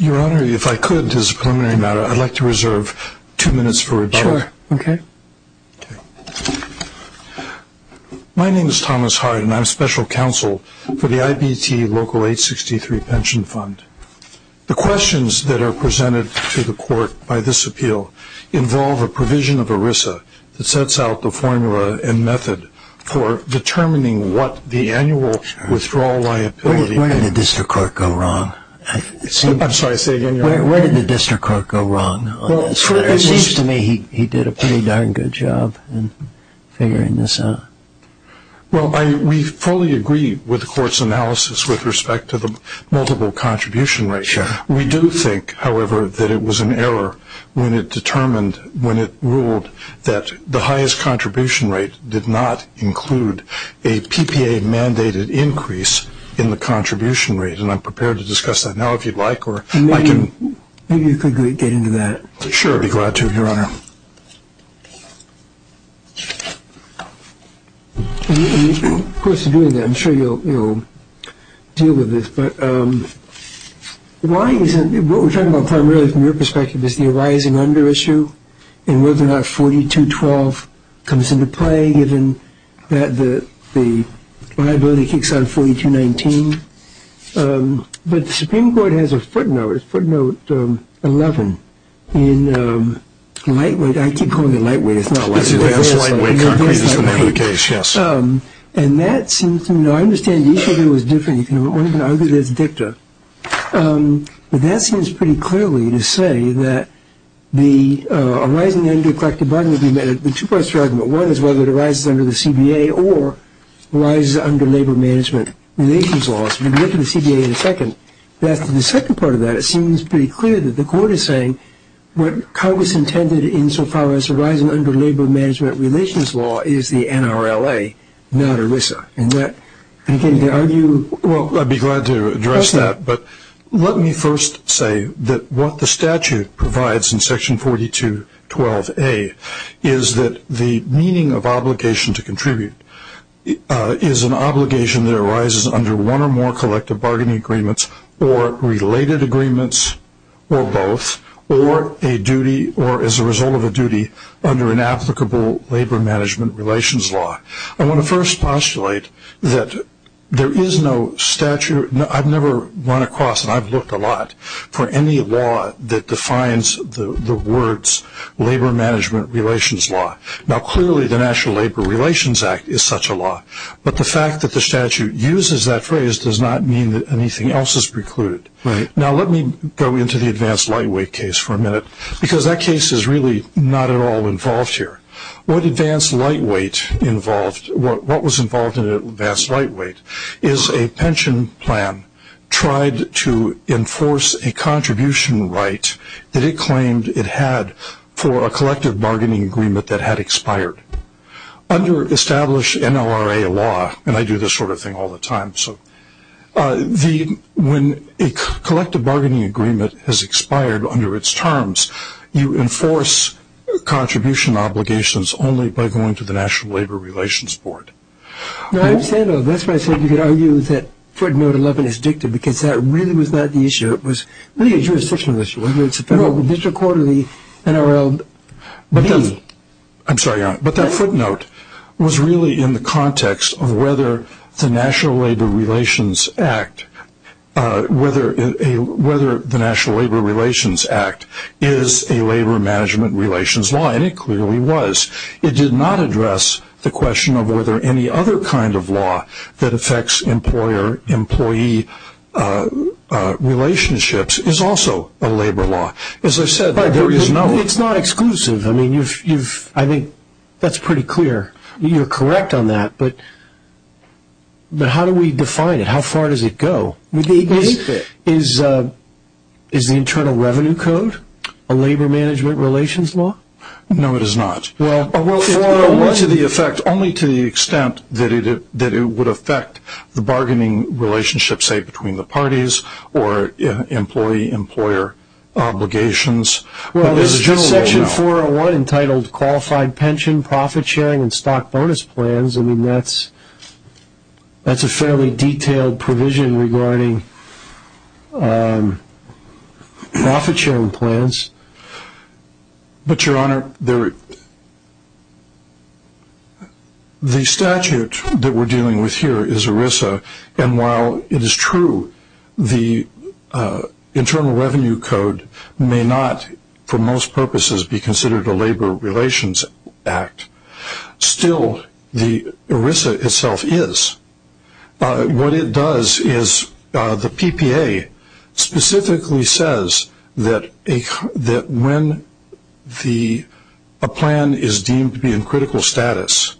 Your Honor, if I could, as a preliminary matter, I would like to reserve two minutes for rebuttal. Sure. Okay. My name is Thomas Hart and I am Special Counsel for the IBT Local863pensionfund. The questions that are presented to the Court by this appeal involve a provision of ERISA that sets out the formula and method for determining what the annual withdrawal liability is. Where did the District Court go wrong? I'm sorry, say again, Your Honor. Where did the District Court go wrong? It seems to me he did a pretty darn good job in figuring this out. Well, we fully agree with the Court's analysis with respect to the multiple contribution ratio. We do think, however, that it was an did not include a PPA-mandated increase in the contribution rate, and I'm prepared to discuss that now if you'd like. Maybe you could get into that. Sure, I'd be glad to, Your Honor. Of course, in doing that, I'm sure you'll deal with this, but what we're talking about primarily from your perspective is the arising under issue and whether or not 4212 comes into play given that the liability kicks out of 4219. But the Supreme Court has a footnote, footnote 11, in lightweight, I keep calling it lightweight, it's not lightweight. It's advanced lightweight concrete, as the matter of the case, yes. And that seems to me, now I understand the issue here was different, you can argue that it's dicta, but that seems pretty clearly to say that the arising under collective bargaining agreement, the two parts of the argument, one is whether it arises under the CBA or arises under labor management relations laws. We'll get to the CBA in a second. But after the second part of that, it seems pretty clear that the Court is saying what Congress intended insofar as arising under labor management relations law is the NRLA, not ERISA. And that, again, to argue Well, I'd be glad to address that, but let me first say that what the statute provides in section 4212A is that the meaning of obligation to contribute is an obligation that arises under one or more collective bargaining agreements or related agreements or both or a duty or as a result of a duty under an applicable labor management relations law. I want to first postulate that there is no statute, I've never run across and I've looked a lot for any law that defines the words labor management relations law. Now clearly the National Labor Relations Act is such a law, but the fact that the statute uses that phrase does not mean that anything else is precluded. Now let me go into the advanced lightweight case for a minute, because that case is really not at all involved here. What advanced lightweight involved, what was involved in advanced lightweight is a pension plan tried to enforce a contribution right that it claimed it had for a collective bargaining agreement that had expired. Under established NLRA law, and I do this sort of thing all the time, when a collective bargaining agreement has expired under its terms, you enforce contribution obligations only by going to the National Labor Relations Board. Now I understand though, that's why I said you could argue that footnote 11 is dictative because that really was not the issue, it was really a jurisdictional issue, whether it's a federal district court or the NRLB. I'm sorry Your Honor, but that footnote was really in the context of whether the National Labor Relations Act, whether the National Labor Relations Act is a labor management relations law, and it clearly was. It did not address the question of whether any other kind of law that affects employer-employee relationships is also a labor law. As I said, there is no... It's not exclusive. I think that's pretty clear. You're correct on that, but how do we define it? How far does it go? Is the Internal Revenue Code a labor management relations law? No, it is not. Only to the extent that it would affect the bargaining relationship, say, between the parties or employee-employer obligations. Section 401 entitled Qualified Pension, Profit Sharing, and Stock Bonus Plans, that's a fairly But Your Honor, the statute that we're dealing with here is ERISA, and while it is true the Internal Revenue Code may not, for most purposes, be considered a labor relations act, still ERISA itself is. What it does is the PPA specifically says that when a plan is deemed to be in critical status,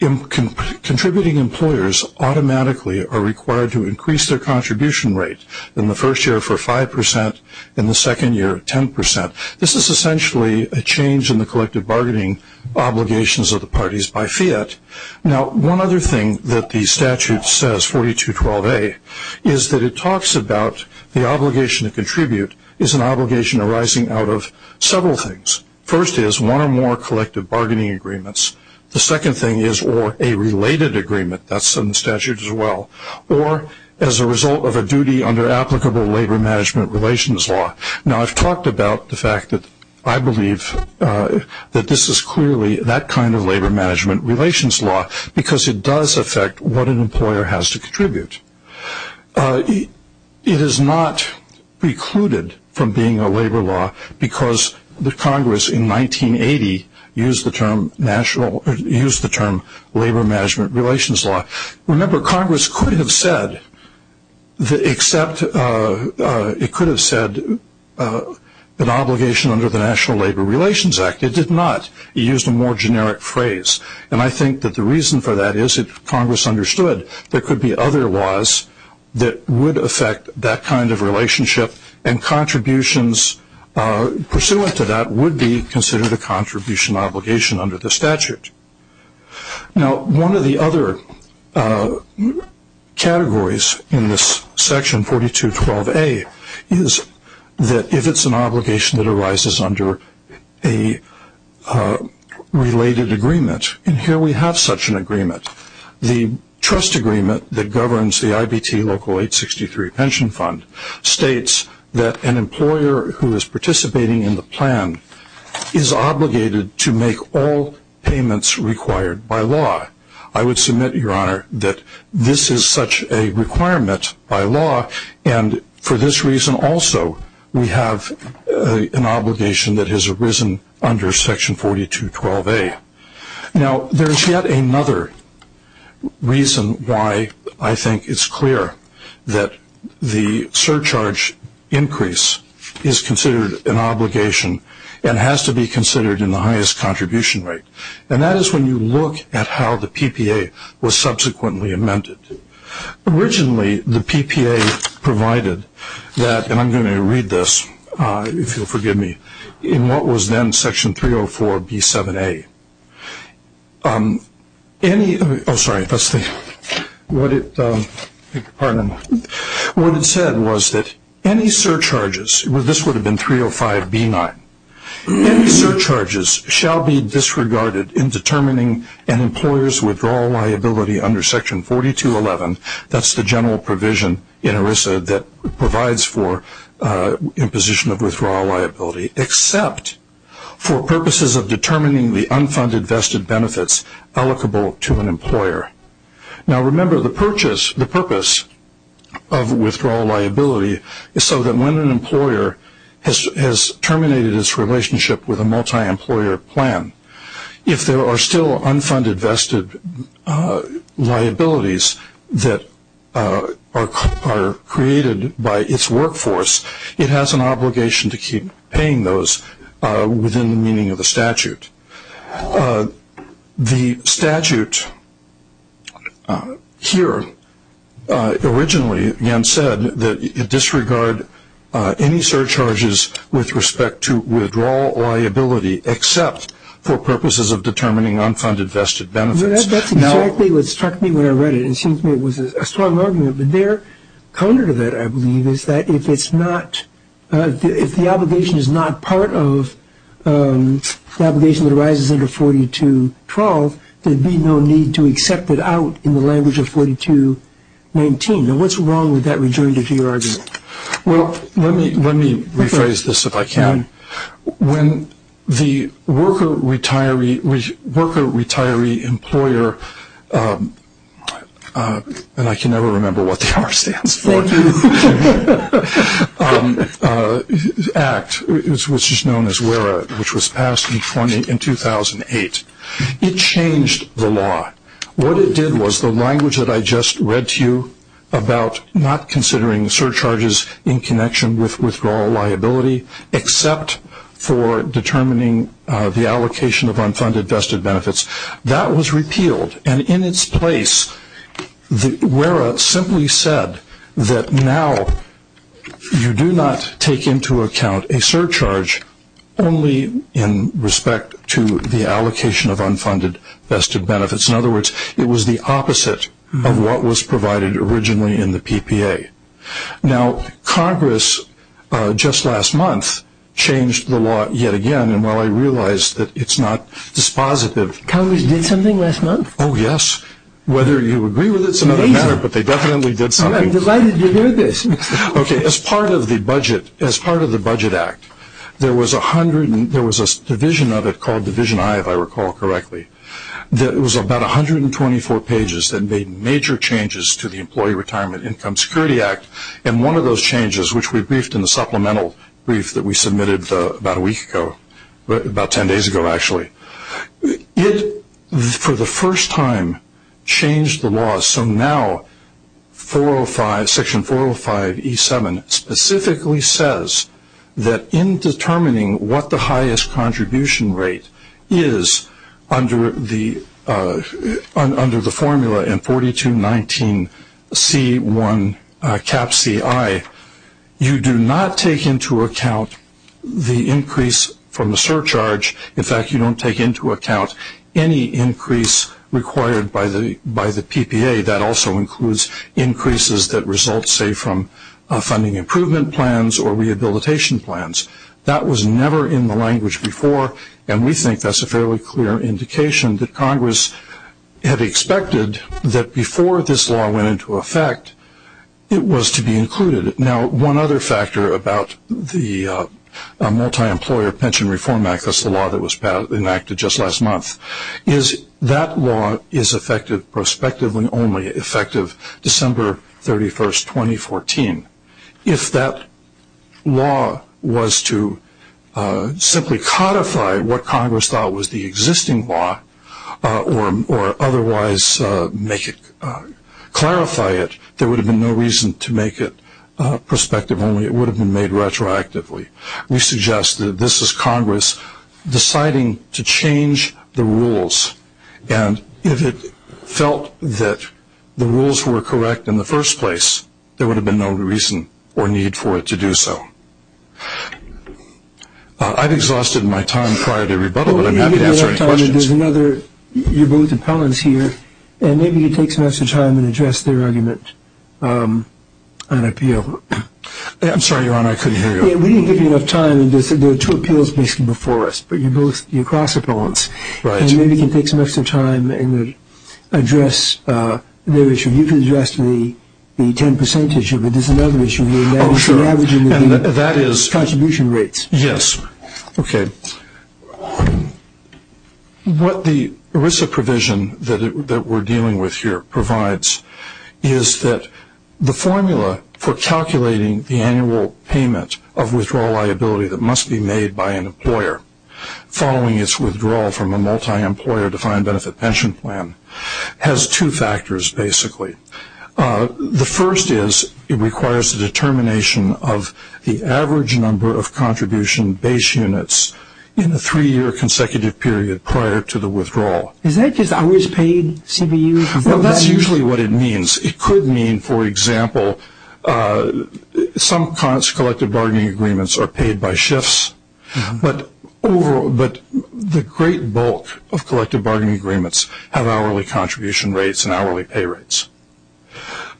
contributing employers automatically are required to increase their contribution rate in the first year for 5% and the second year 10%. This is essentially a change in the collective bargaining obligations of the parties by fiat. Now, one other thing that the statute says, 4212A, is that it talks about the obligation to contribute is an obligation arising out of several things. First is one or more collective bargaining agreements. The second thing is a related agreement, that's in the statute as well, or as a result of a duty under applicable labor management relations law. Now, I've talked about the fact that I believe that this is clearly that kind of labor management relations law because it does affect what an employer has to contribute. It is not precluded from being a labor law because the Congress in 1980 used the term labor management relations law. Remember, Congress could have said an obligation under the National Labor Relations Act. It did not. It used a more generic phrase and I think that the reason for that is that Congress understood there could be other laws that would affect that kind of relationship and contributions pursuant to that would be considered a contribution obligation under the statute. Now, one of the other categories in this section 4212A is that if it's an obligation that arises under a related agreement, and here we have such an agreement. The trust agreement that governs the IBT Local 863 Pension Fund states that an employer who is participating in the plan is obligated to make all payments required by law. I would submit, Your Honor, that this is such a requirement by law and for this reason also we have an obligation that has arisen under section 4212A. Now, there's yet another reason why I think it's and has to be considered in the highest contribution rate and that is when you look at how the PPA was subsequently amended. Originally, the PPA provided that, and I'm going to read this if you'll forgive me, in what was then section 304B7A. What it said was that any surcharges shall be disregarded in determining an employer's withdrawal liability under section 4211. That's the general provision in ERISA that provides for imposition of withdrawal liability except for purposes of determining the unfunded vested benefits allocable to an employer. Now, remember the purpose of withdrawal liability is so that when an employer has terminated its relationship with a multi-employer plan, if there are still unfunded vested liabilities that are created by its workforce, it has an obligation to keep paying those within the meaning of the statute. The statute here originally again said that you disregard any surcharges with respect to withdrawal liability except for purposes of determining unfunded vested benefits. That's exactly what struck me when I read it. It seems to me it was a strong argument, but their counter to that I believe is that if the obligation is not part of the obligation that arises under 4212, there'd be no need to accept it out in the language of 4219. Now, what's wrong with that return to DRD? Well, let me rephrase this if I can. When the worker retiree employer, and I can never remember what the R stands for, act, which is known as WERA, which was passed in 2008, it changed the law. What it did was the language that I just read to you about not considering surcharges in connection with withdrawal liability except for determining the allocation of unfunded vested benefits, that was repealed. And in its place, WERA simply said that now you do not take into account a surcharge only in respect to the allocation of unfunded vested benefits. In other words, it was the opposite of what was provided originally in the PPA. Now, Congress just last month changed the law yet again, and while I realize that it's not dispositive. Congress did something last month? Oh, yes. Whether you agree with it is another matter, but they definitely did something. I'm delighted to hear this. Okay, as part of the Budget Act, there was a division of it called Division I, if I recall correctly, that was about 124 pages that made major changes to the Employee Retirement Income Security Act, and one of those changes, which we briefed in the supplemental brief that we submitted about a week ago, about 10 days ago actually. It, for the first time, changed the law, so now Section 405E7 specifically says that in determining what the highest contribution rate is under the formula in 4219C1Ci, you do not take into account the PPA. That also includes increases that result, say, from funding improvement plans or rehabilitation plans. That was never in the language before, and we think that's a fairly clear indication that Congress had expected that before this law went into effect, it was to be included. Now, one other factor about the Multi-Employer Pension Reform Act, that's the law that was effective prospectively only, effective December 31st, 2014. If that law was to simply codify what Congress thought was the existing law, or otherwise make it, clarify it, there would have been no reason to make it prospective only. It would have been made retroactively. We suggest that this is Congress deciding to change the rules, and if it felt that the rules were correct in the first place, there would have been no reason or need for it to do so. I've exhausted my time prior to rebuttal, but I'm happy to answer any questions. You're both appellants here, and maybe you can take some extra time and address their argument on appeal. I'm sorry, Your Honor, I couldn't hear you. We didn't give you enough time. There are two appeals basically before us, but you're both, you're cross-appellants. Right. And maybe you can take some extra time and address their issue. You can address the 10 percentage here, but there's another issue here. Oh, sure. Averaging the contribution rates. Yes. Okay. What the ERISA provision that we're dealing with here provides is that the formula for calculating the annual payment of withdrawal liability that must be made by an employer following its withdrawal from a multi-employer defined benefit pension plan has two factors basically. The first is it requires a determination of the average number of contribution base units in the three-year consecutive period prior to the withdrawal. Is that just hours paid, CBU? Well, that's usually what it means. It could mean, for example, some kinds of collective bargaining agreements are paid by shifts, but the great bulk of collective bargaining agreements have hourly contribution rates and hourly pay rates.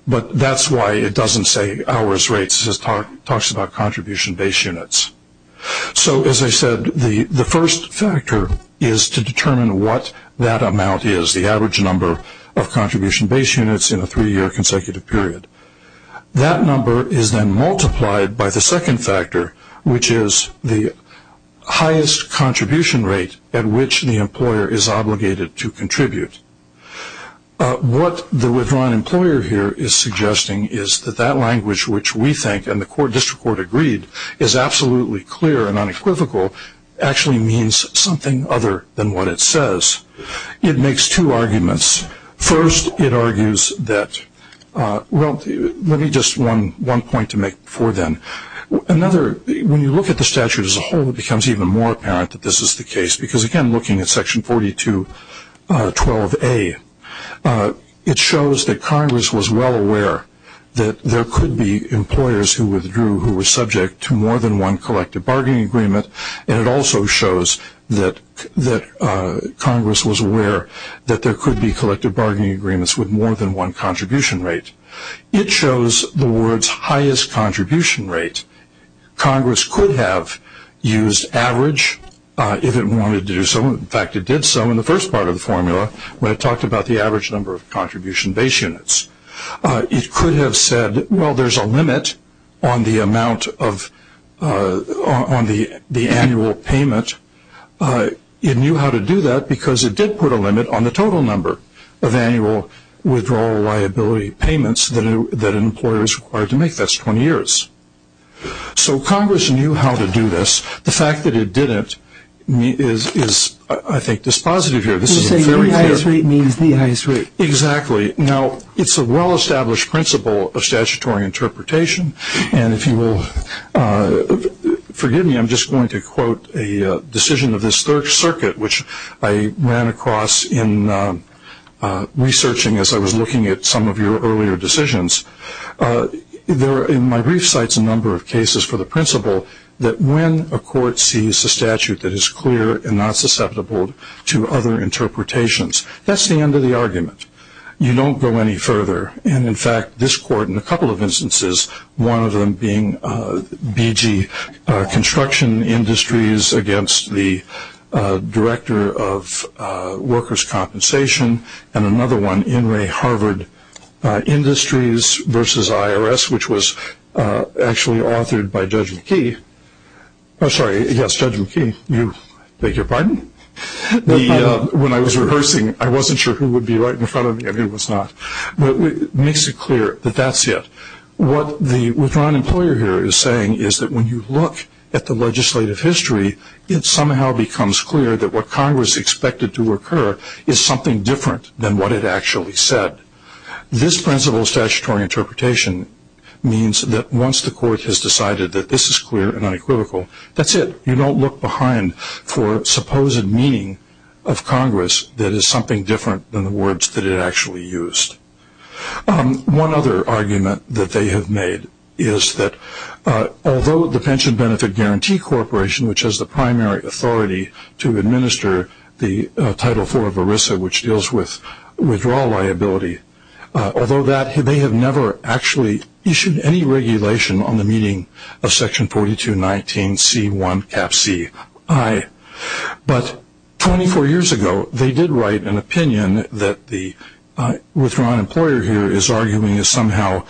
But that's why it doesn't say hours rates. It talks about contribution base units. So, as I said, the first factor is to determine what that amount is, the average number of contribution base units in a three-year consecutive period. That number is then multiplied by the second factor, which is the highest contribution rate at which the employer is obligated to contribute. What the withdrawn employer here is suggesting is that that language which we think and the district court agreed is absolutely clear and unequivocal actually means something other than what it says. It makes two arguments. First, it argues that, well, let me just one point to make before then. Another, when you look at the statute as a whole, it becomes even more apparent that this is the case if you're looking at section 4212A. It shows that Congress was well aware that there could be employers who withdrew who were subject to more than one collective bargaining agreement, and it also shows that Congress was aware that there could be collective bargaining agreements with more than one contribution rate. It shows the word's highest contribution rate. Congress could have used average if it wanted to do so. In fact, it did so in the first part of the formula when it talked about the average number of contribution base units. It could have said, well, there's a limit on the amount of the annual payment. It knew how to do that because it did put a limit on the total number of annual withdrawal liability payments that an employer is required to make. That's 20 years. So Congress knew how to do this. The fact that it didn't is, I think, dispositive here. You said the highest rate means the highest rate. Exactly. Now, it's a well-established principle of statutory interpretation, and if you will forgive me, I'm just going to quote a decision of this third circuit which I ran across in researching as I was looking at some of your earlier decisions. My brief cites a number of cases for the principle that when a court sees a statute that is clear and not susceptible to other interpretations, that's the end of the argument. You don't go any further, and, in fact, this court in a couple of instances, one of them being BG Construction Industries against the Director of Workers' Compensation and another one, In Re Harvard Industries versus IRS, which was actually authored by Judge McKee. Oh, sorry, yes, Judge McKee. I beg your pardon? When I was rehearsing, I wasn't sure who would be right in front of me, and he was not. But it makes it clear that that's it. What the withdrawn employer here is saying is that when you look at the legislative history, it somehow becomes clear that what Congress expected to occur is something different than what it actually said. This principle of statutory interpretation means that once the court has decided that this is clear and unequivocal, that's it. You don't look behind for supposed meaning of Congress that is something different than the words that it actually used. One other argument that they have made is that although the Pension Benefit Guarantee Corporation, which has the primary authority to administer the Title IV of ERISA, which deals with withdrawal liability, although that, they have never actually issued any regulation on the meeting of Section 4219C1CapC. But 24 years ago, they did write an opinion that the withdrawn employer here is arguing is somehow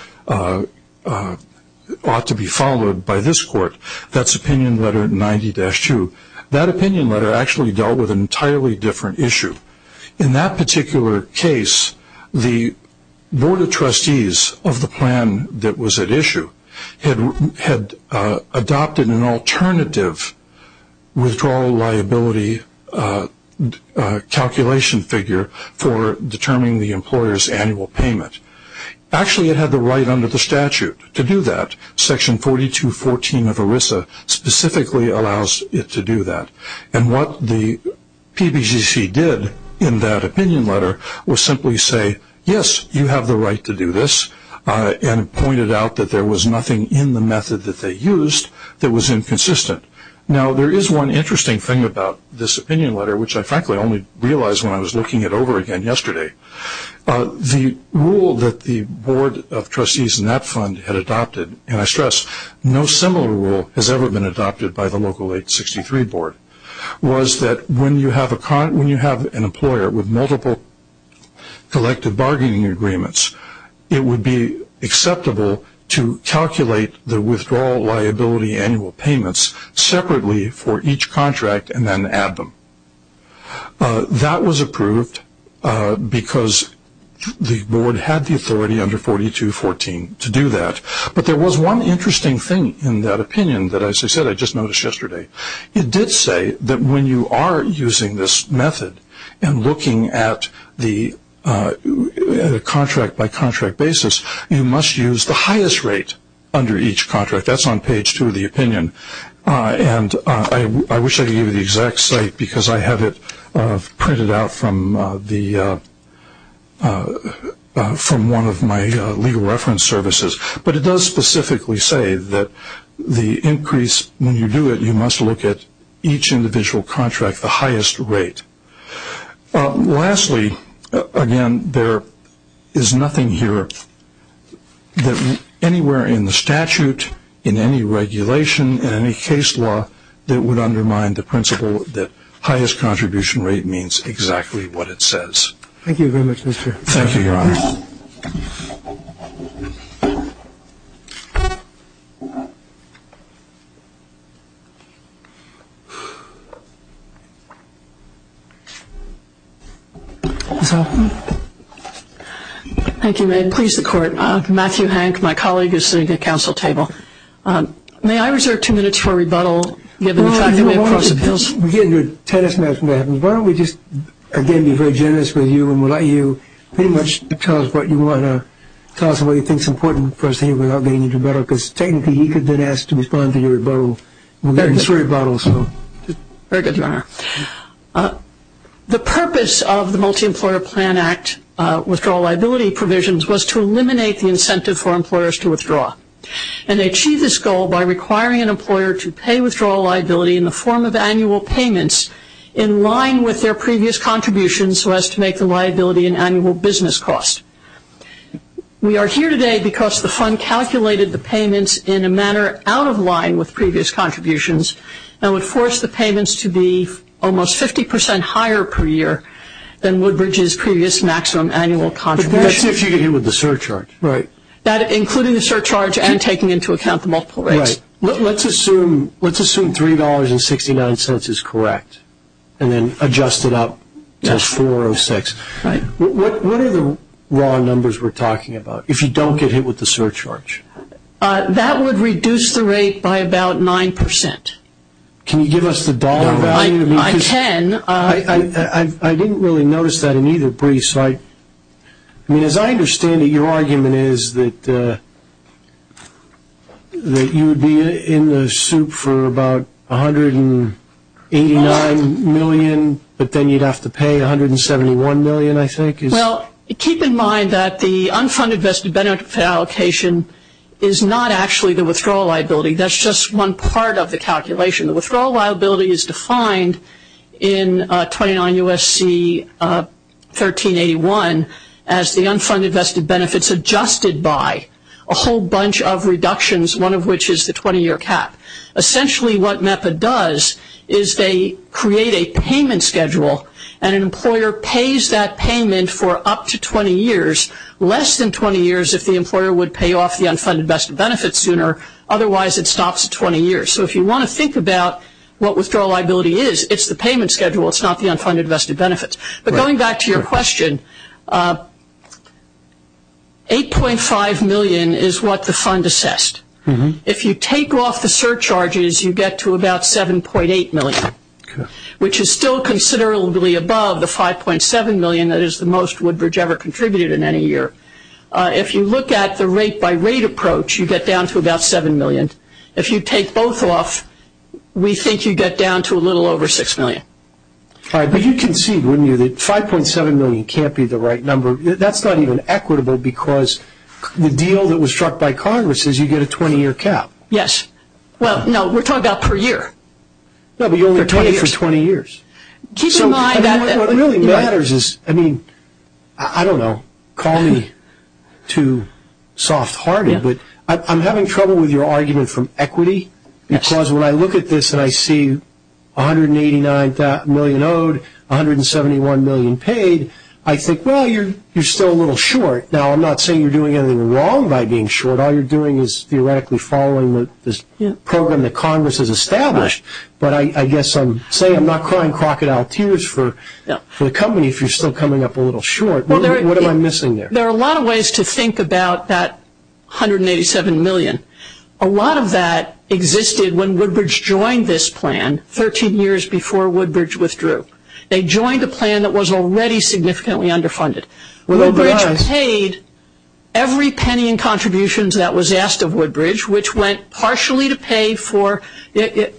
ought to be followed by this court. That's opinion letter 90-2. That opinion letter actually dealt with an entirely different issue. In that particular case, the Board of Trustees of the plan that was at issue had adopted an alternative withdrawal liability calculation figure for determining the employer's annual payment. Actually, it had the right under the statute to do that. Section 4214 of ERISA specifically allows it to do that. What the PBCC did in that opinion letter was simply say, yes, you have the right to do this, and pointed out that there was nothing in the method that they used that was inconsistent. Now, there is one interesting thing about this opinion letter, which I frankly only realized when I was looking it over again yesterday. The rule that the Board of Trustees in that fund had adopted, and I stress no similar rule has ever been adopted by the local 863 board, was that when you have an employer with multiple collective bargaining agreements, it would be acceptable to calculate the withdrawal liability annual payments separately for each contract and then add them. That was approved because the board had the authority under 4214 to do that. But there was one interesting thing in that opinion that, as I said, I just noticed yesterday. It did say that when you are using this method and looking at the contract by contract basis, you must use the highest rate under each contract. That's on page two of the opinion. I wish I could give you the exact site because I have it printed out from one of my legal reference services. But it does specifically say that the increase, when you do it, you must look at each individual contract, the highest rate. Lastly, again, there is nothing here anywhere in the statute, in any regulation, in any case law that would undermine the principle that highest contribution rate means exactly what it says. Thank you very much, Mr. Chairman. Thank you, Your Honor. Ms. Hall. Thank you, Mayor. Please, the Court. Matthew Hank, my colleague, is sitting at the council table. May I reserve two minutes for rebuttal given the fact that we have cross appeals? We're getting a tennis match when that happens. Why don't we just, again, be very generous with you and we'll let you pretty much tell us what you want to tell us and what you think is important for us to hear without getting into rebuttal because technically he could then ask to respond to your rebuttal. We're getting three rebuttals. Very good, Your Honor. The purpose of the Multi-Employer Plan Act withdrawal liability provisions was to eliminate the incentive for employers to withdraw and achieve this goal by requiring an employer to pay withdrawal liability in the form of annual payments in line with their previous contributions so as to make the liability an annual business cost. We are here today because the fund calculated the payments in a manner out of line with previous contributions and would force the payments to be almost 50 percent higher per year than Woodbridge's previous maximum annual contribution. That's if you get hit with the surcharge. Right. Including the surcharge and taking into account the multiple rates. Right. Let's assume $3.69 is correct and then adjust it up to $4.06. Right. What are the raw numbers we're talking about if you don't get hit with the surcharge? That would reduce the rate by about 9 percent. Can you give us the dollar value? I can. I didn't really notice that in either brief. As I understand it, your argument is that you would be in the soup for about $189 million, but then you'd have to pay $171 million, I think. Well, keep in mind that the unfunded vested benefit allocation is not actually the withdrawal liability. That's just one part of the calculation. The withdrawal liability is defined in 29 U.S.C. 1381 as the unfunded vested benefits adjusted by a whole bunch of reductions, one of which is the 20-year cap. Essentially what MEPA does is they create a payment schedule and an employer pays that payment for up to 20 years, less than 20 years if the employer would pay off the unfunded vested benefits sooner, otherwise it stops at 20 years. So if you want to think about what withdrawal liability is, it's the payment schedule. It's not the unfunded vested benefits. But going back to your question, $8.5 million is what the fund assessed. If you take off the surcharges, you get to about $7.8 million, which is still considerably above the $5.7 million that is the most Woodbridge ever contributed in any year. If you look at the rate-by-rate approach, you get down to about $7 million. If you take both off, we think you get down to a little over $6 million. All right, but you concede, wouldn't you, that $5.7 million can't be the right number? That's not even equitable because the deal that was struck by Congress is you get a 20-year cap. Yes. Well, no, we're talking about per year. No, but you only pay it for 20 years. So what really matters is, I mean, I don't know, call me too soft-hearted, but I'm having trouble with your argument from equity because when I look at this and I see $189 million owed, $171 million paid, I think, well, you're still a little short. Now, I'm not saying you're doing anything wrong by being short. All you're doing is theoretically following this program that Congress has established. But I guess I'm saying I'm not crying crocodile tears for the company if you're still coming up a little short. What am I missing there? There are a lot of ways to think about that $187 million. A lot of that existed when Woodbridge joined this plan 13 years before Woodbridge withdrew. They joined a plan that was already significantly underfunded. Woodbridge paid every penny in contributions that was asked of Woodbridge, which went partially to pay for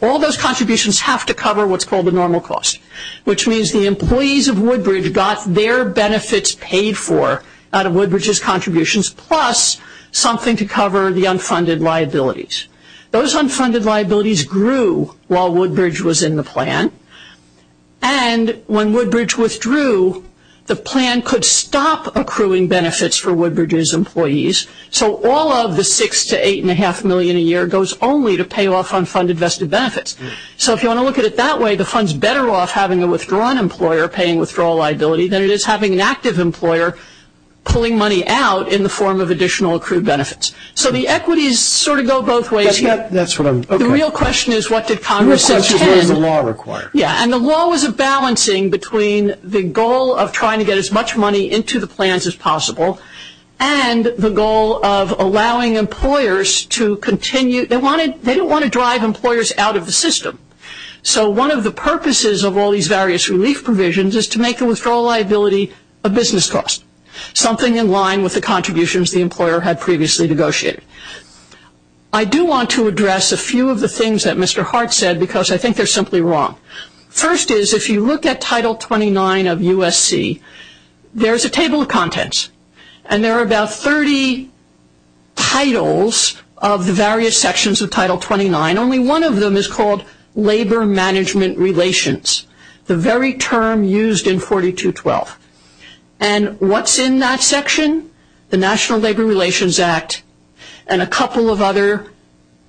all those contributions have to cover what's called the normal cost, which means the employees of Woodbridge got their benefits paid for out of Woodbridge's contributions, plus something to cover the unfunded liabilities. Those unfunded liabilities grew while Woodbridge was in the plan. And when Woodbridge withdrew, the plan could stop accruing benefits for Woodbridge's employees. So all of the $6 to $8.5 million a year goes only to pay off unfunded vested benefits. So if you want to look at it that way, the fund's better off having a withdrawn employer paying withdrawal liability than it is having an active employer pulling money out in the form of additional accrued benefits. So the equities sort of go both ways here. The real question is what did Congress intend? The real question is what does the law require? Yeah, and the law was a balancing between the goal of trying to get as much money into the plans as possible and the goal of allowing employers to continue. They didn't want to drive employers out of the system. So one of the purposes of all these various relief provisions is to make the withdrawal liability a business cost, something in line with the contributions the employer had previously negotiated. I do want to address a few of the things that Mr. Hart said because I think they're simply wrong. First is if you look at Title 29 of USC, there's a table of contents, and there are about 30 titles of the various sections of Title 29. Only one of them is called Labor Management Relations, the very term used in 4212. And what's in that section? The National Labor Relations Act and a couple of other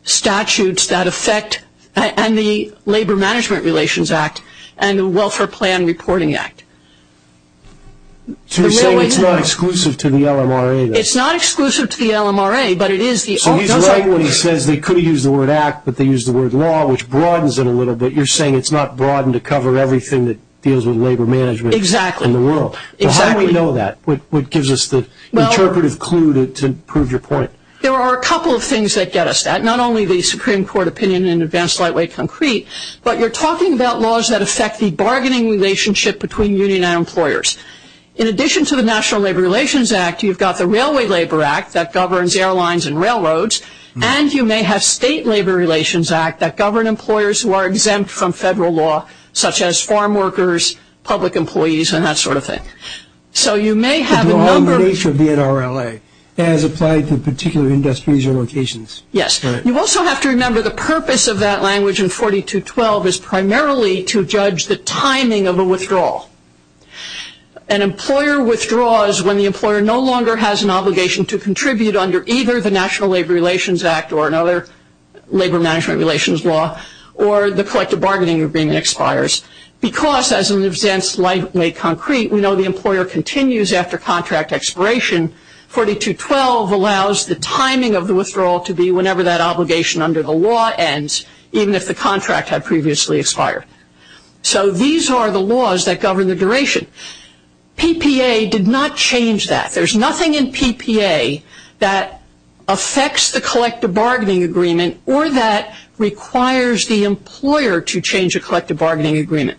statutes that affect and the Labor Management Relations Act and the Welfare Plan Reporting Act. So you're saying it's not exclusive to the LMRA? It's not exclusive to the LMRA, but it is. So he's right when he says they could have used the word act, but they used the word law, which broadens it a little bit. You're saying it's not broadened to cover everything that deals with labor management in the world? How do we know that? What gives us the interpretive clue to prove your point? There are a couple of things that get us that. Not only the Supreme Court opinion in Advanced Lightweight Concrete, but you're talking about laws that affect the bargaining relationship between union and employers. In addition to the National Labor Relations Act, you've got the Railway Labor Act that governs airlines and railroads, and you may have State Labor Relations Act that govern employers who are exempt from federal law, such as farm workers, public employees, and that sort of thing. So you may have a number of... The law in the nature of the NRLA as applied to particular industries or locations. Yes. You also have to remember the purpose of that language in 4212 is primarily to judge the timing of a withdrawal. An employer withdraws when the employer no longer has an obligation to contribute under either the National Labor Relations Act or another labor management relations law, or the collective bargaining agreement expires. Because, as in Advanced Lightweight Concrete, we know the employer continues after contract expiration, 4212 allows the timing of the withdrawal to be whenever that obligation under the law ends, even if the contract had previously expired. So these are the laws that govern the duration. PPA did not change that. There's nothing in PPA that affects the collective bargaining agreement or that requires the employer to change a collective bargaining agreement.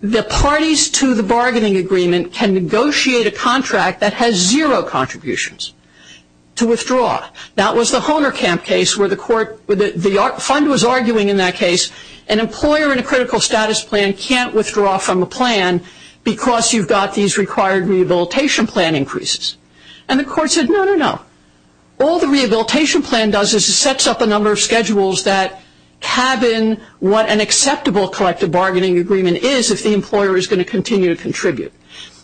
The parties to the bargaining agreement can negotiate a contract that has zero contributions to withdraw. That was the Hohnerkamp case where the fund was arguing in that case, an employer in a critical status plan can't withdraw from a plan because you've got these required rehabilitation plan increases. And the court said, no, no, no. All the rehabilitation plan does is it sets up a number of schedules that cabin what an acceptable collective bargaining agreement is if the employer is going to continue to contribute.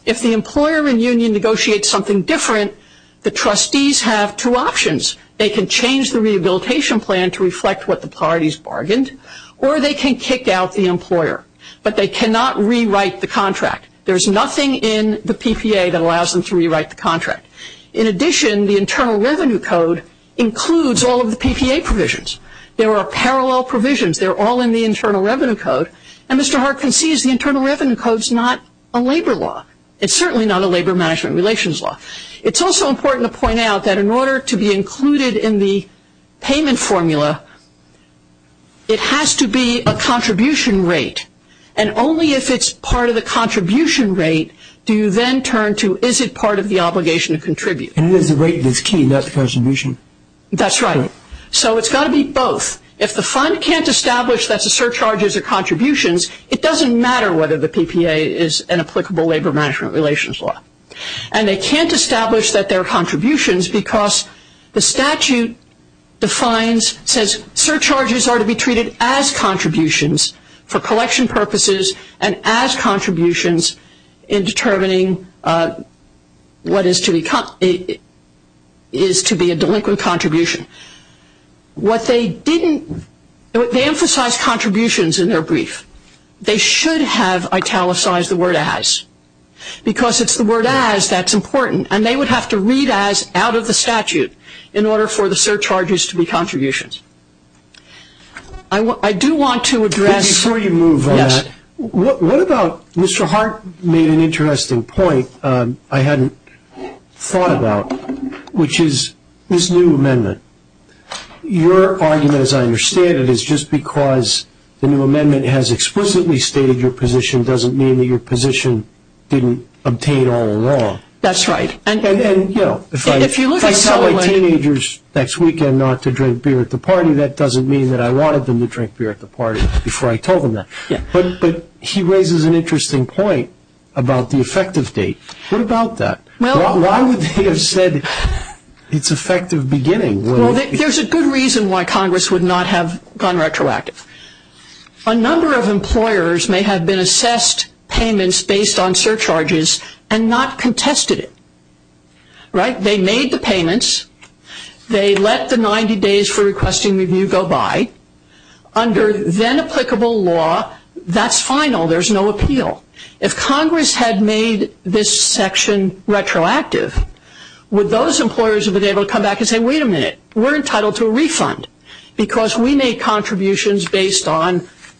If the employer and union negotiate something different, the trustees have two options. They can change the rehabilitation plan to reflect what the parties bargained, or they can kick out the employer. But they cannot rewrite the contract. There's nothing in the PPA that allows them to rewrite the contract. In addition, the Internal Revenue Code includes all of the PPA provisions. There are parallel provisions. They're all in the Internal Revenue Code. And Mr. Hart concedes the Internal Revenue Code is not a labor law. It's certainly not a labor management relations law. It's also important to point out that in order to be included in the payment formula, it has to be a contribution rate. And only if it's part of the contribution rate do you then turn to is it part of the obligation to contribute. And it is the rate that's key, not the contribution. That's right. So it's got to be both. If the fund can't establish that's a surcharge as a contribution, it doesn't matter whether the PPA is an applicable labor management relations law. And they can't establish that they're contributions because the statute defines, says surcharges are to be treated as contributions for collection purposes and as contributions in determining what is to be a delinquent contribution. What they didn't, they emphasized contributions in their brief. They should have italicized the word as because it's the word as that's important. And they would have to read as out of the statute in order for the surcharges to be contributions. I do want to address. Before you move on that, what about Mr. Hart made an interesting point I hadn't thought about, which is this new amendment. Your argument, as I understand it, is just because the new amendment has explicitly stated your position doesn't mean that your position didn't obtain all along. That's right. And, you know, if I tell my teenagers next weekend not to drink beer at the party, that doesn't mean that I wanted them to drink beer at the party before I told them that. But he raises an interesting point about the effective date. What about that? Why would they have said it's effective beginning? Well, there's a good reason why Congress would not have gone retroactive. A number of employers may have been assessed payments based on surcharges and not contested it. Right? They made the payments. They let the 90 days for requesting review go by. Under then applicable law, that's final. There's no appeal. If Congress had made this section retroactive, would those employers have been able to come back and say, wait a minute, we're entitled to a refund because we made contributions based on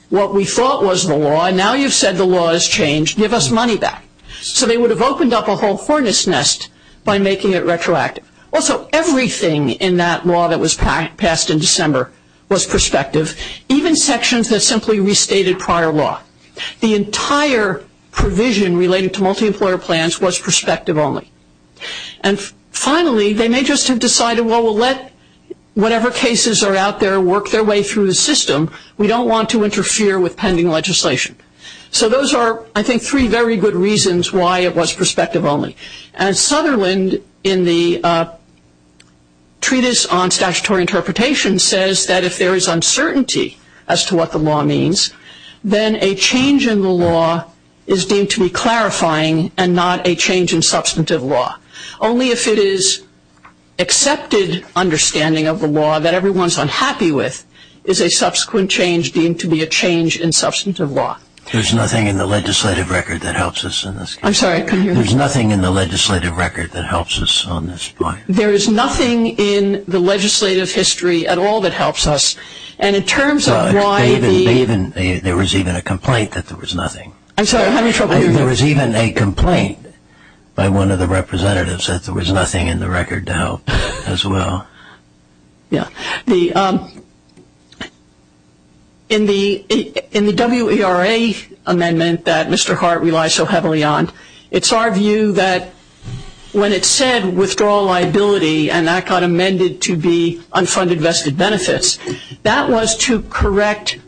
what we thought was the law and now you've said the law has changed, give us money back. So they would have opened up a whole hornet's nest by making it retroactive. Also, everything in that law that was passed in December was prospective, even sections that simply restated prior law. The entire provision related to multi-employer plans was prospective only. And finally, they may just have decided, well, we'll let whatever cases are out there work their way through the system. We don't want to interfere with pending legislation. So those are, I think, three very good reasons why it was prospective only. And Sutherland in the Treatise on Statutory Interpretation says that if there is uncertainty as to what the law means, then a change in the law is deemed to be clarifying and not a change in substantive law. Only if it is accepted understanding of the law that everyone's unhappy with is a subsequent change deemed to be a change in substantive law. There's nothing in the legislative record that helps us in this case. I'm sorry. There's nothing in the legislative record that helps us on this point. There is nothing in the legislative history at all that helps us. There was even a complaint that there was nothing. There was even a complaint by one of the representatives that there was nothing in the record to help as well. In the WERA amendment that Mr. Hart relies so heavily on, it's our view that when it said withdrawal liability and that got amended to be unfunded vested benefits, that was to correct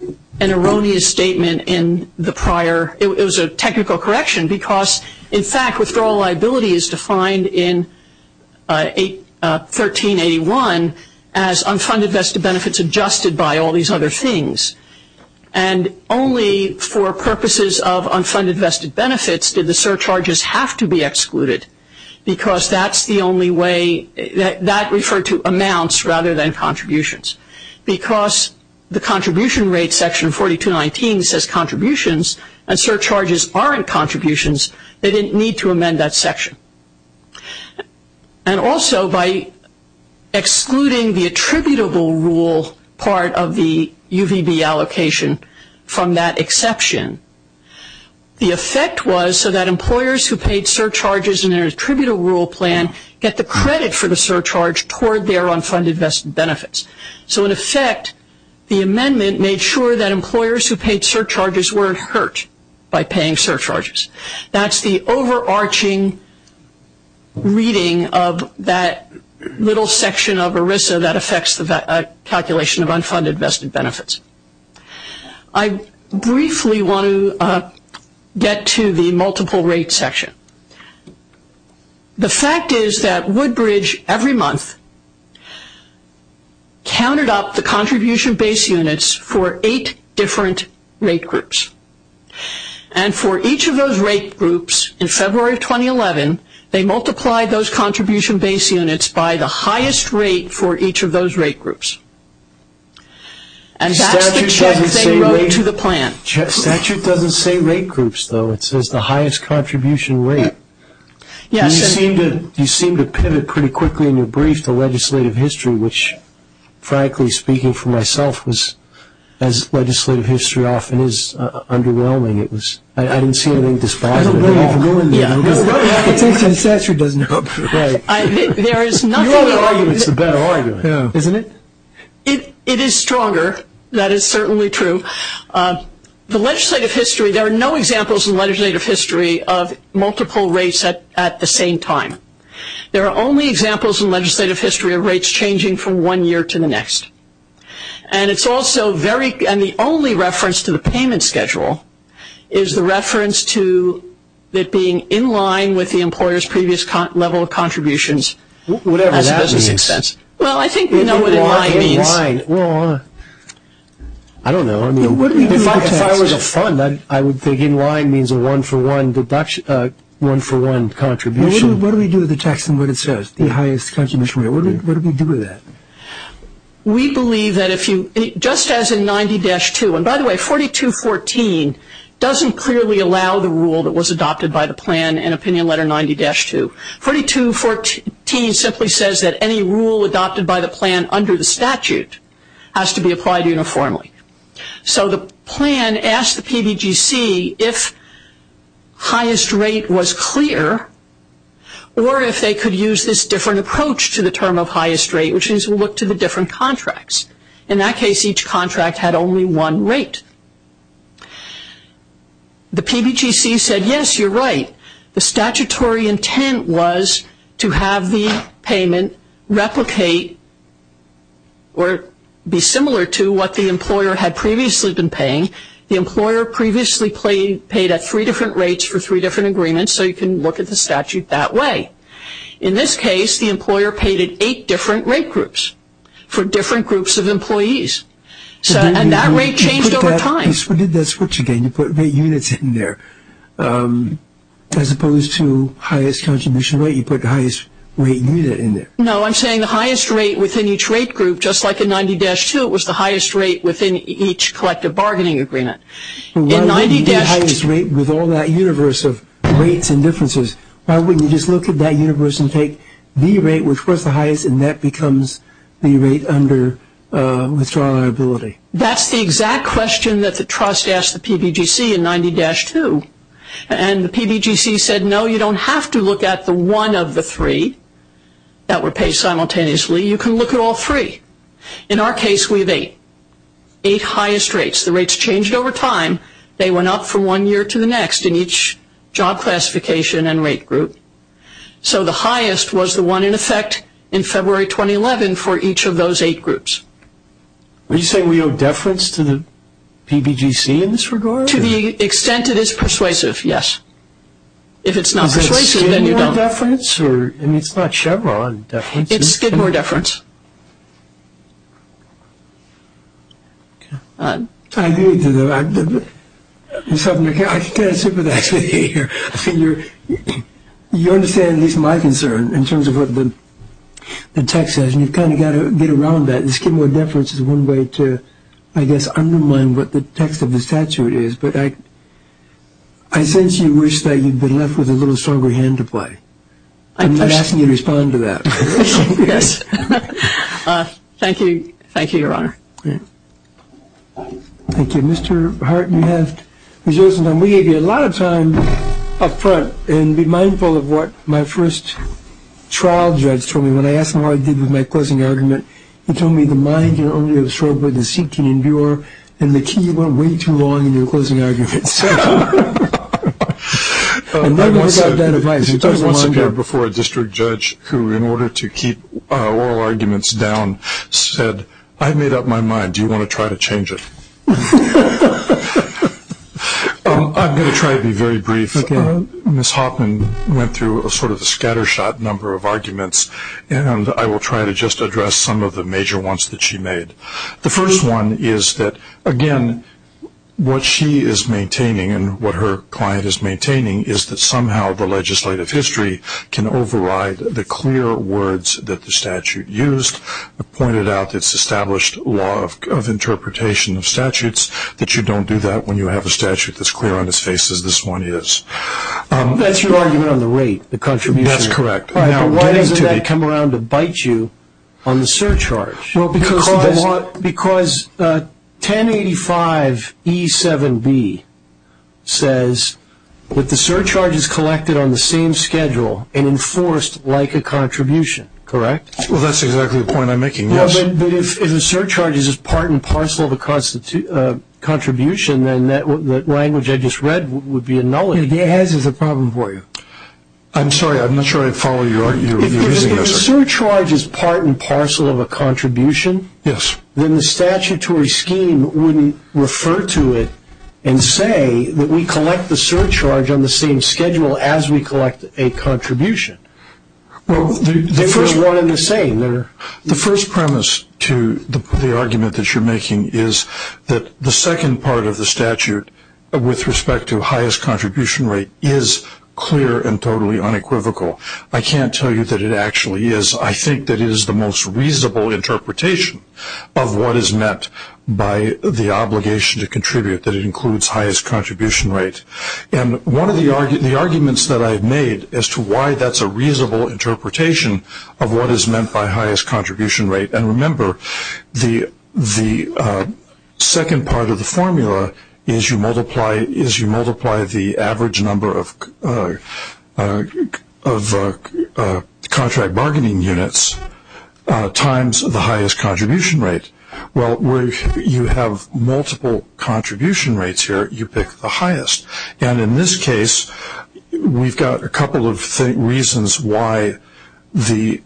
an erroneous statement in the prior. It was a technical correction because, in fact, withdrawal liability is defined in 1381 as unfunded vested benefits adjusted by all these other things. And only for purposes of unfunded vested benefits did the surcharges have to be excluded because that's the only way that referred to amounts rather than contributions. Because the contribution rate section 4219 says contributions and surcharges aren't contributions, they didn't need to amend that section. And also by excluding the attributable rule part of the UVB allocation from that exception, the effect was so that employers who paid surcharges in their attributable rule plan get the credit for the surcharge toward their unfunded vested benefits. So in effect, the amendment made sure that employers who paid surcharges weren't hurt by paying surcharges. That's the overarching reading of that little section of ERISA that affects the calculation of unfunded vested benefits. I briefly want to get to the multiple rate section. The fact is that Woodbridge every month counted up the contribution base units for eight different rate groups. And for each of those rate groups in February of 2011, they multiplied those contribution base units by the highest rate for each of those rate groups. And that's the check they wrote to the plan. Statute doesn't say rate groups, though. It says the highest contribution rate. You seem to pivot pretty quickly in your brief to legislative history, which frankly speaking for myself was, as legislative history often is, underwhelming. I didn't see anything dispositive. I don't know what happened. The statute doesn't help. Right. There is nothing. The better argument is the better argument, isn't it? It is stronger. That is certainly true. The legislative history, there are no examples in legislative history of multiple rates at the same time. There are only examples in legislative history of rates changing from one year to the next. And the only reference to the payment schedule is the reference to it being in line with the employer's previous level of contributions. Whatever that means. Well, I think we know what in line means. Well, I don't know. If I was a fund, I would think in line means a one-for-one contribution. What do we do with the text and what it says, the highest contribution rate? What do we do with that? We believe that if you, just as in 90-2, and by the way, 4214 doesn't clearly allow the rule that was adopted by the plan in opinion letter 90-2. 4214 simply says that any rule adopted by the plan under the statute has to be applied uniformly. So the plan asked the PBGC if highest rate was clear or if they could use this different approach to the term of highest rate, which is to look to the different contracts. In that case, each contract had only one rate. The PBGC said, yes, you're right. The statutory intent was to have the payment replicate or be similar to what the employer had previously been paying. The employer previously paid at three different rates for three different agreements, so you can look at the statute that way. In this case, the employer paid at eight different rate groups for different groups of employees. And that rate changed over time. You did that switch again. You put rate units in there as opposed to highest contribution rate. You put the highest rate unit in there. No, I'm saying the highest rate within each rate group, just like in 90-2, it was the highest rate within each collective bargaining agreement. In 90-2. The highest rate with all that universe of rates and differences, why wouldn't you just look at that universe and take the rate which was the highest and that becomes the rate under withdrawal liability? That's the exact question that the trust asked the PBGC in 90-2. And the PBGC said, no, you don't have to look at the one of the three that were paid simultaneously. You can look at all three. In our case, we have eight. Eight highest rates. The rates changed over time. They went up from one year to the next in each job classification and rate group. So the highest was the one in effect in February 2011 for each of those eight groups. Are you saying we owe deference to the PBGC in this regard? To the extent it is persuasive, yes. If it's not persuasive, then you don't. Is that Skidmore deference? I mean, it's not Chevron deference. It's Skidmore deference. I agree. I kind of sympathize with you here. You understand at least my concern in terms of what the text says, and you've kind of got to get around that. The Skidmore deference is one way to, I guess, undermine what the text of the statute is. But I sense you wish that you'd been left with a little stronger hand to play. I'm not asking you to respond to that. Yes. Thank you. Thank you, Your Honor. Thank you. Mr. Hart, we gave you a lot of time up front. And be mindful of what my first trial judge told me. When I asked him what I did with my closing argument, he told me the mind can only absorb what the seat can endure, and the key went way too long in your closing argument. And then I got that advice. I once appeared before a district judge who, in order to keep oral arguments down, said, I've made up my mind. Do you want to try to change it? I'm going to try to be very brief. Ms. Hoffman went through sort of a scattershot number of arguments, and I will try to just address some of the major ones that she made. The first one is that, again, what she is maintaining and what her client is maintaining is that somehow the legislative history can override the clear words that the statute used, pointed out its established law of interpretation of statutes, that you don't do that when you have a statute that's clear on its face as this one is. That's your argument on the rate, the contribution. That's correct. But why doesn't that come around to bite you on the surcharge? Because 1085E7B says that the surcharge is collected on the same schedule and enforced like a contribution, correct? Well, that's exactly the point I'm making, yes. But if the surcharge is part and parcel of a contribution, then that language I just read would be a nullity. It has a problem for you. I'm sorry. I'm not sure I follow you. If the surcharge is part and parcel of a contribution, then the statutory scheme wouldn't refer to it and say that we collect the surcharge on the same schedule as we collect a contribution. Well, the first one and the same. The first premise to the argument that you're making is that the second part of the statute, with respect to highest contribution rate, is clear and totally unequivocal. I can't tell you that it actually is. I think that it is the most reasonable interpretation of what is meant by the obligation to contribute, that it includes highest contribution rate. One of the arguments that I've made as to why that's a reasonable interpretation of what is meant by highest contribution rate, and remember the second part of the formula is you multiply the average number of contract bargaining units times the highest contribution rate. Well, where you have multiple contribution rates here, you pick the highest. And in this case, we've got a couple of reasons why the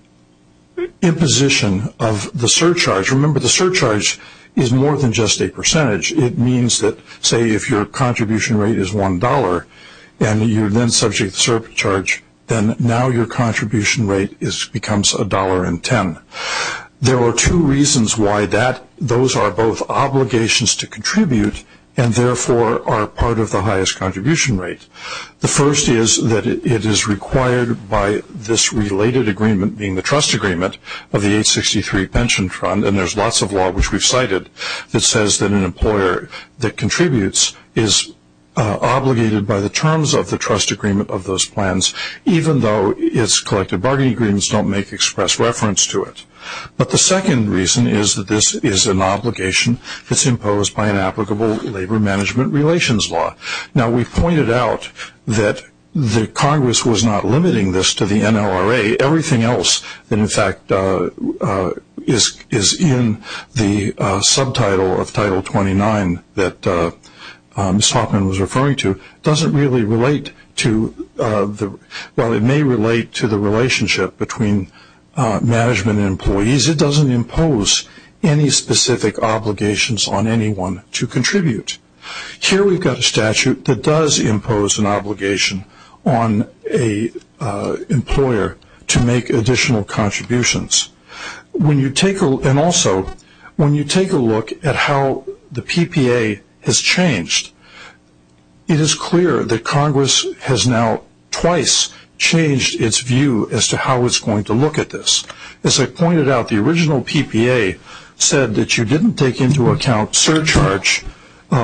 imposition of the surcharge, remember the surcharge is more than just a percentage. It means that, say, if your contribution rate is $1 and you're then subject to surcharge, then now your contribution rate becomes $1.10. There are two reasons why those are both obligations to contribute and therefore are part of the highest contribution rate. The first is that it is required by this related agreement, being the trust agreement, of the 863 pension fund, and there's lots of law, which we've cited, that says that an employer that contributes is obligated by the terms of the trust agreement of those plans, even though its collective bargaining agreements don't make express reference to it. But the second reason is that this is an obligation that's imposed by an applicable labor management relations law. Now, we've pointed out that the Congress was not limiting this to the NLRA. Everything else that, in fact, is in the subtitle of Title 29 that Ms. Hoffman was referring to doesn't really relate to, well, it may relate to the relationship between management and employees. It doesn't impose any specific obligations on anyone to contribute. Here we've got a statute that does impose an obligation on an employer to make additional contributions. And also, when you take a look at how the PPA has changed, it is clear that Congress has now twice changed its view as to how it's going to look at this. As I pointed out, the original PPA said that you didn't take into account surcharge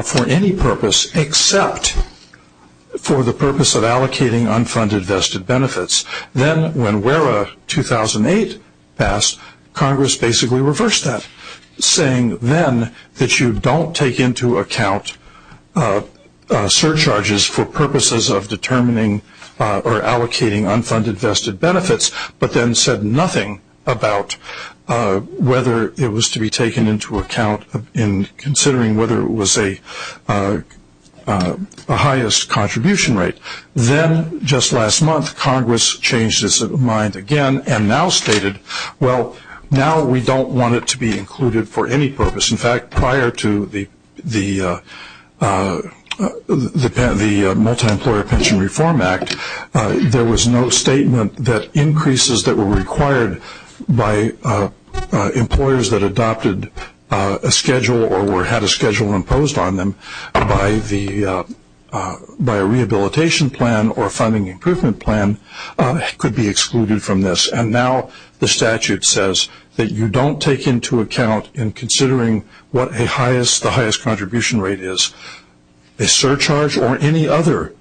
for any purpose except for the purpose of allocating unfunded vested benefits. Then when WERA 2008 passed, Congress basically reversed that, saying then that you don't take into account surcharges for purposes of determining or allocating unfunded vested benefits, but then said nothing about whether it was to be taken into account in considering whether it was a highest contribution rate. Then, just last month, Congress changed its mind again and now stated, well, now we don't want it to be included for any purpose. In fact, prior to the Multi-Employer Pension Reform Act, there was no statement that increases that were required by employers that adopted a schedule or had a schedule imposed on them by a rehabilitation plan or funding improvement plan could be excluded from this. And now the statute says that you don't take into account in considering what the highest contribution rate is, a surcharge or any other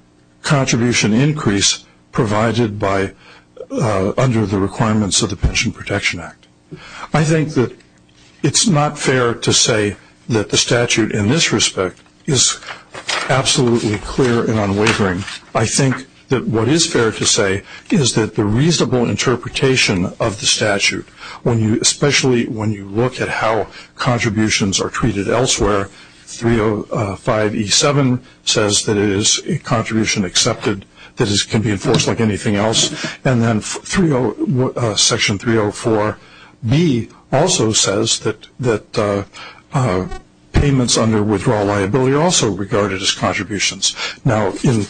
contribution increase provided under the requirements of the Pension Protection Act. I think that it's not fair to say that the statute in this respect is absolutely clear and unwavering. I think that what is fair to say is that the reasonable interpretation of the statute, especially when you look at how contributions are treated elsewhere, 305E7 says that it is a contribution accepted that can be enforced like anything else, and then Section 304B also says that payments under withdrawal liability are also regarded as contributions. Now, in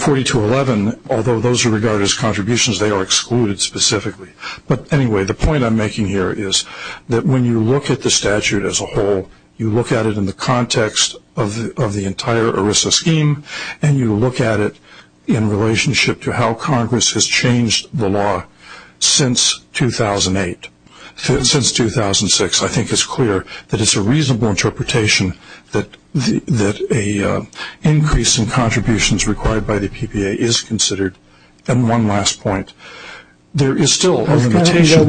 4211, although those are regarded as contributions, they are excluded specifically. But anyway, the point I'm making here is that when you look at the statute as a whole, you look at it in the context of the entire ERISA scheme and you look at it in relationship to how Congress has changed the law since 2008, since 2006. I think it's clear that it's a reasonable interpretation that an increase in contributions required by the PPA is considered. And one last point. There is still a limitation.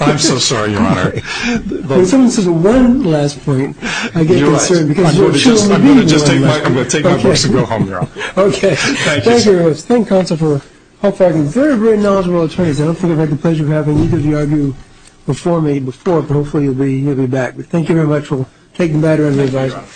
I'm so sorry, Your Honor. I'm sorry. When someone says one last point, I get concerned. I'm going to just take my books and go home, Your Honor. Thank you. Thank you, Your Honor. Thank you, counsel, for a very, very knowledgeable attorney. I don't think I've had the pleasure of having either of you argue before me before, but hopefully you'll be back. Thank you very much. We'll take the matter under review. Thank you, Your Honor. Thank you.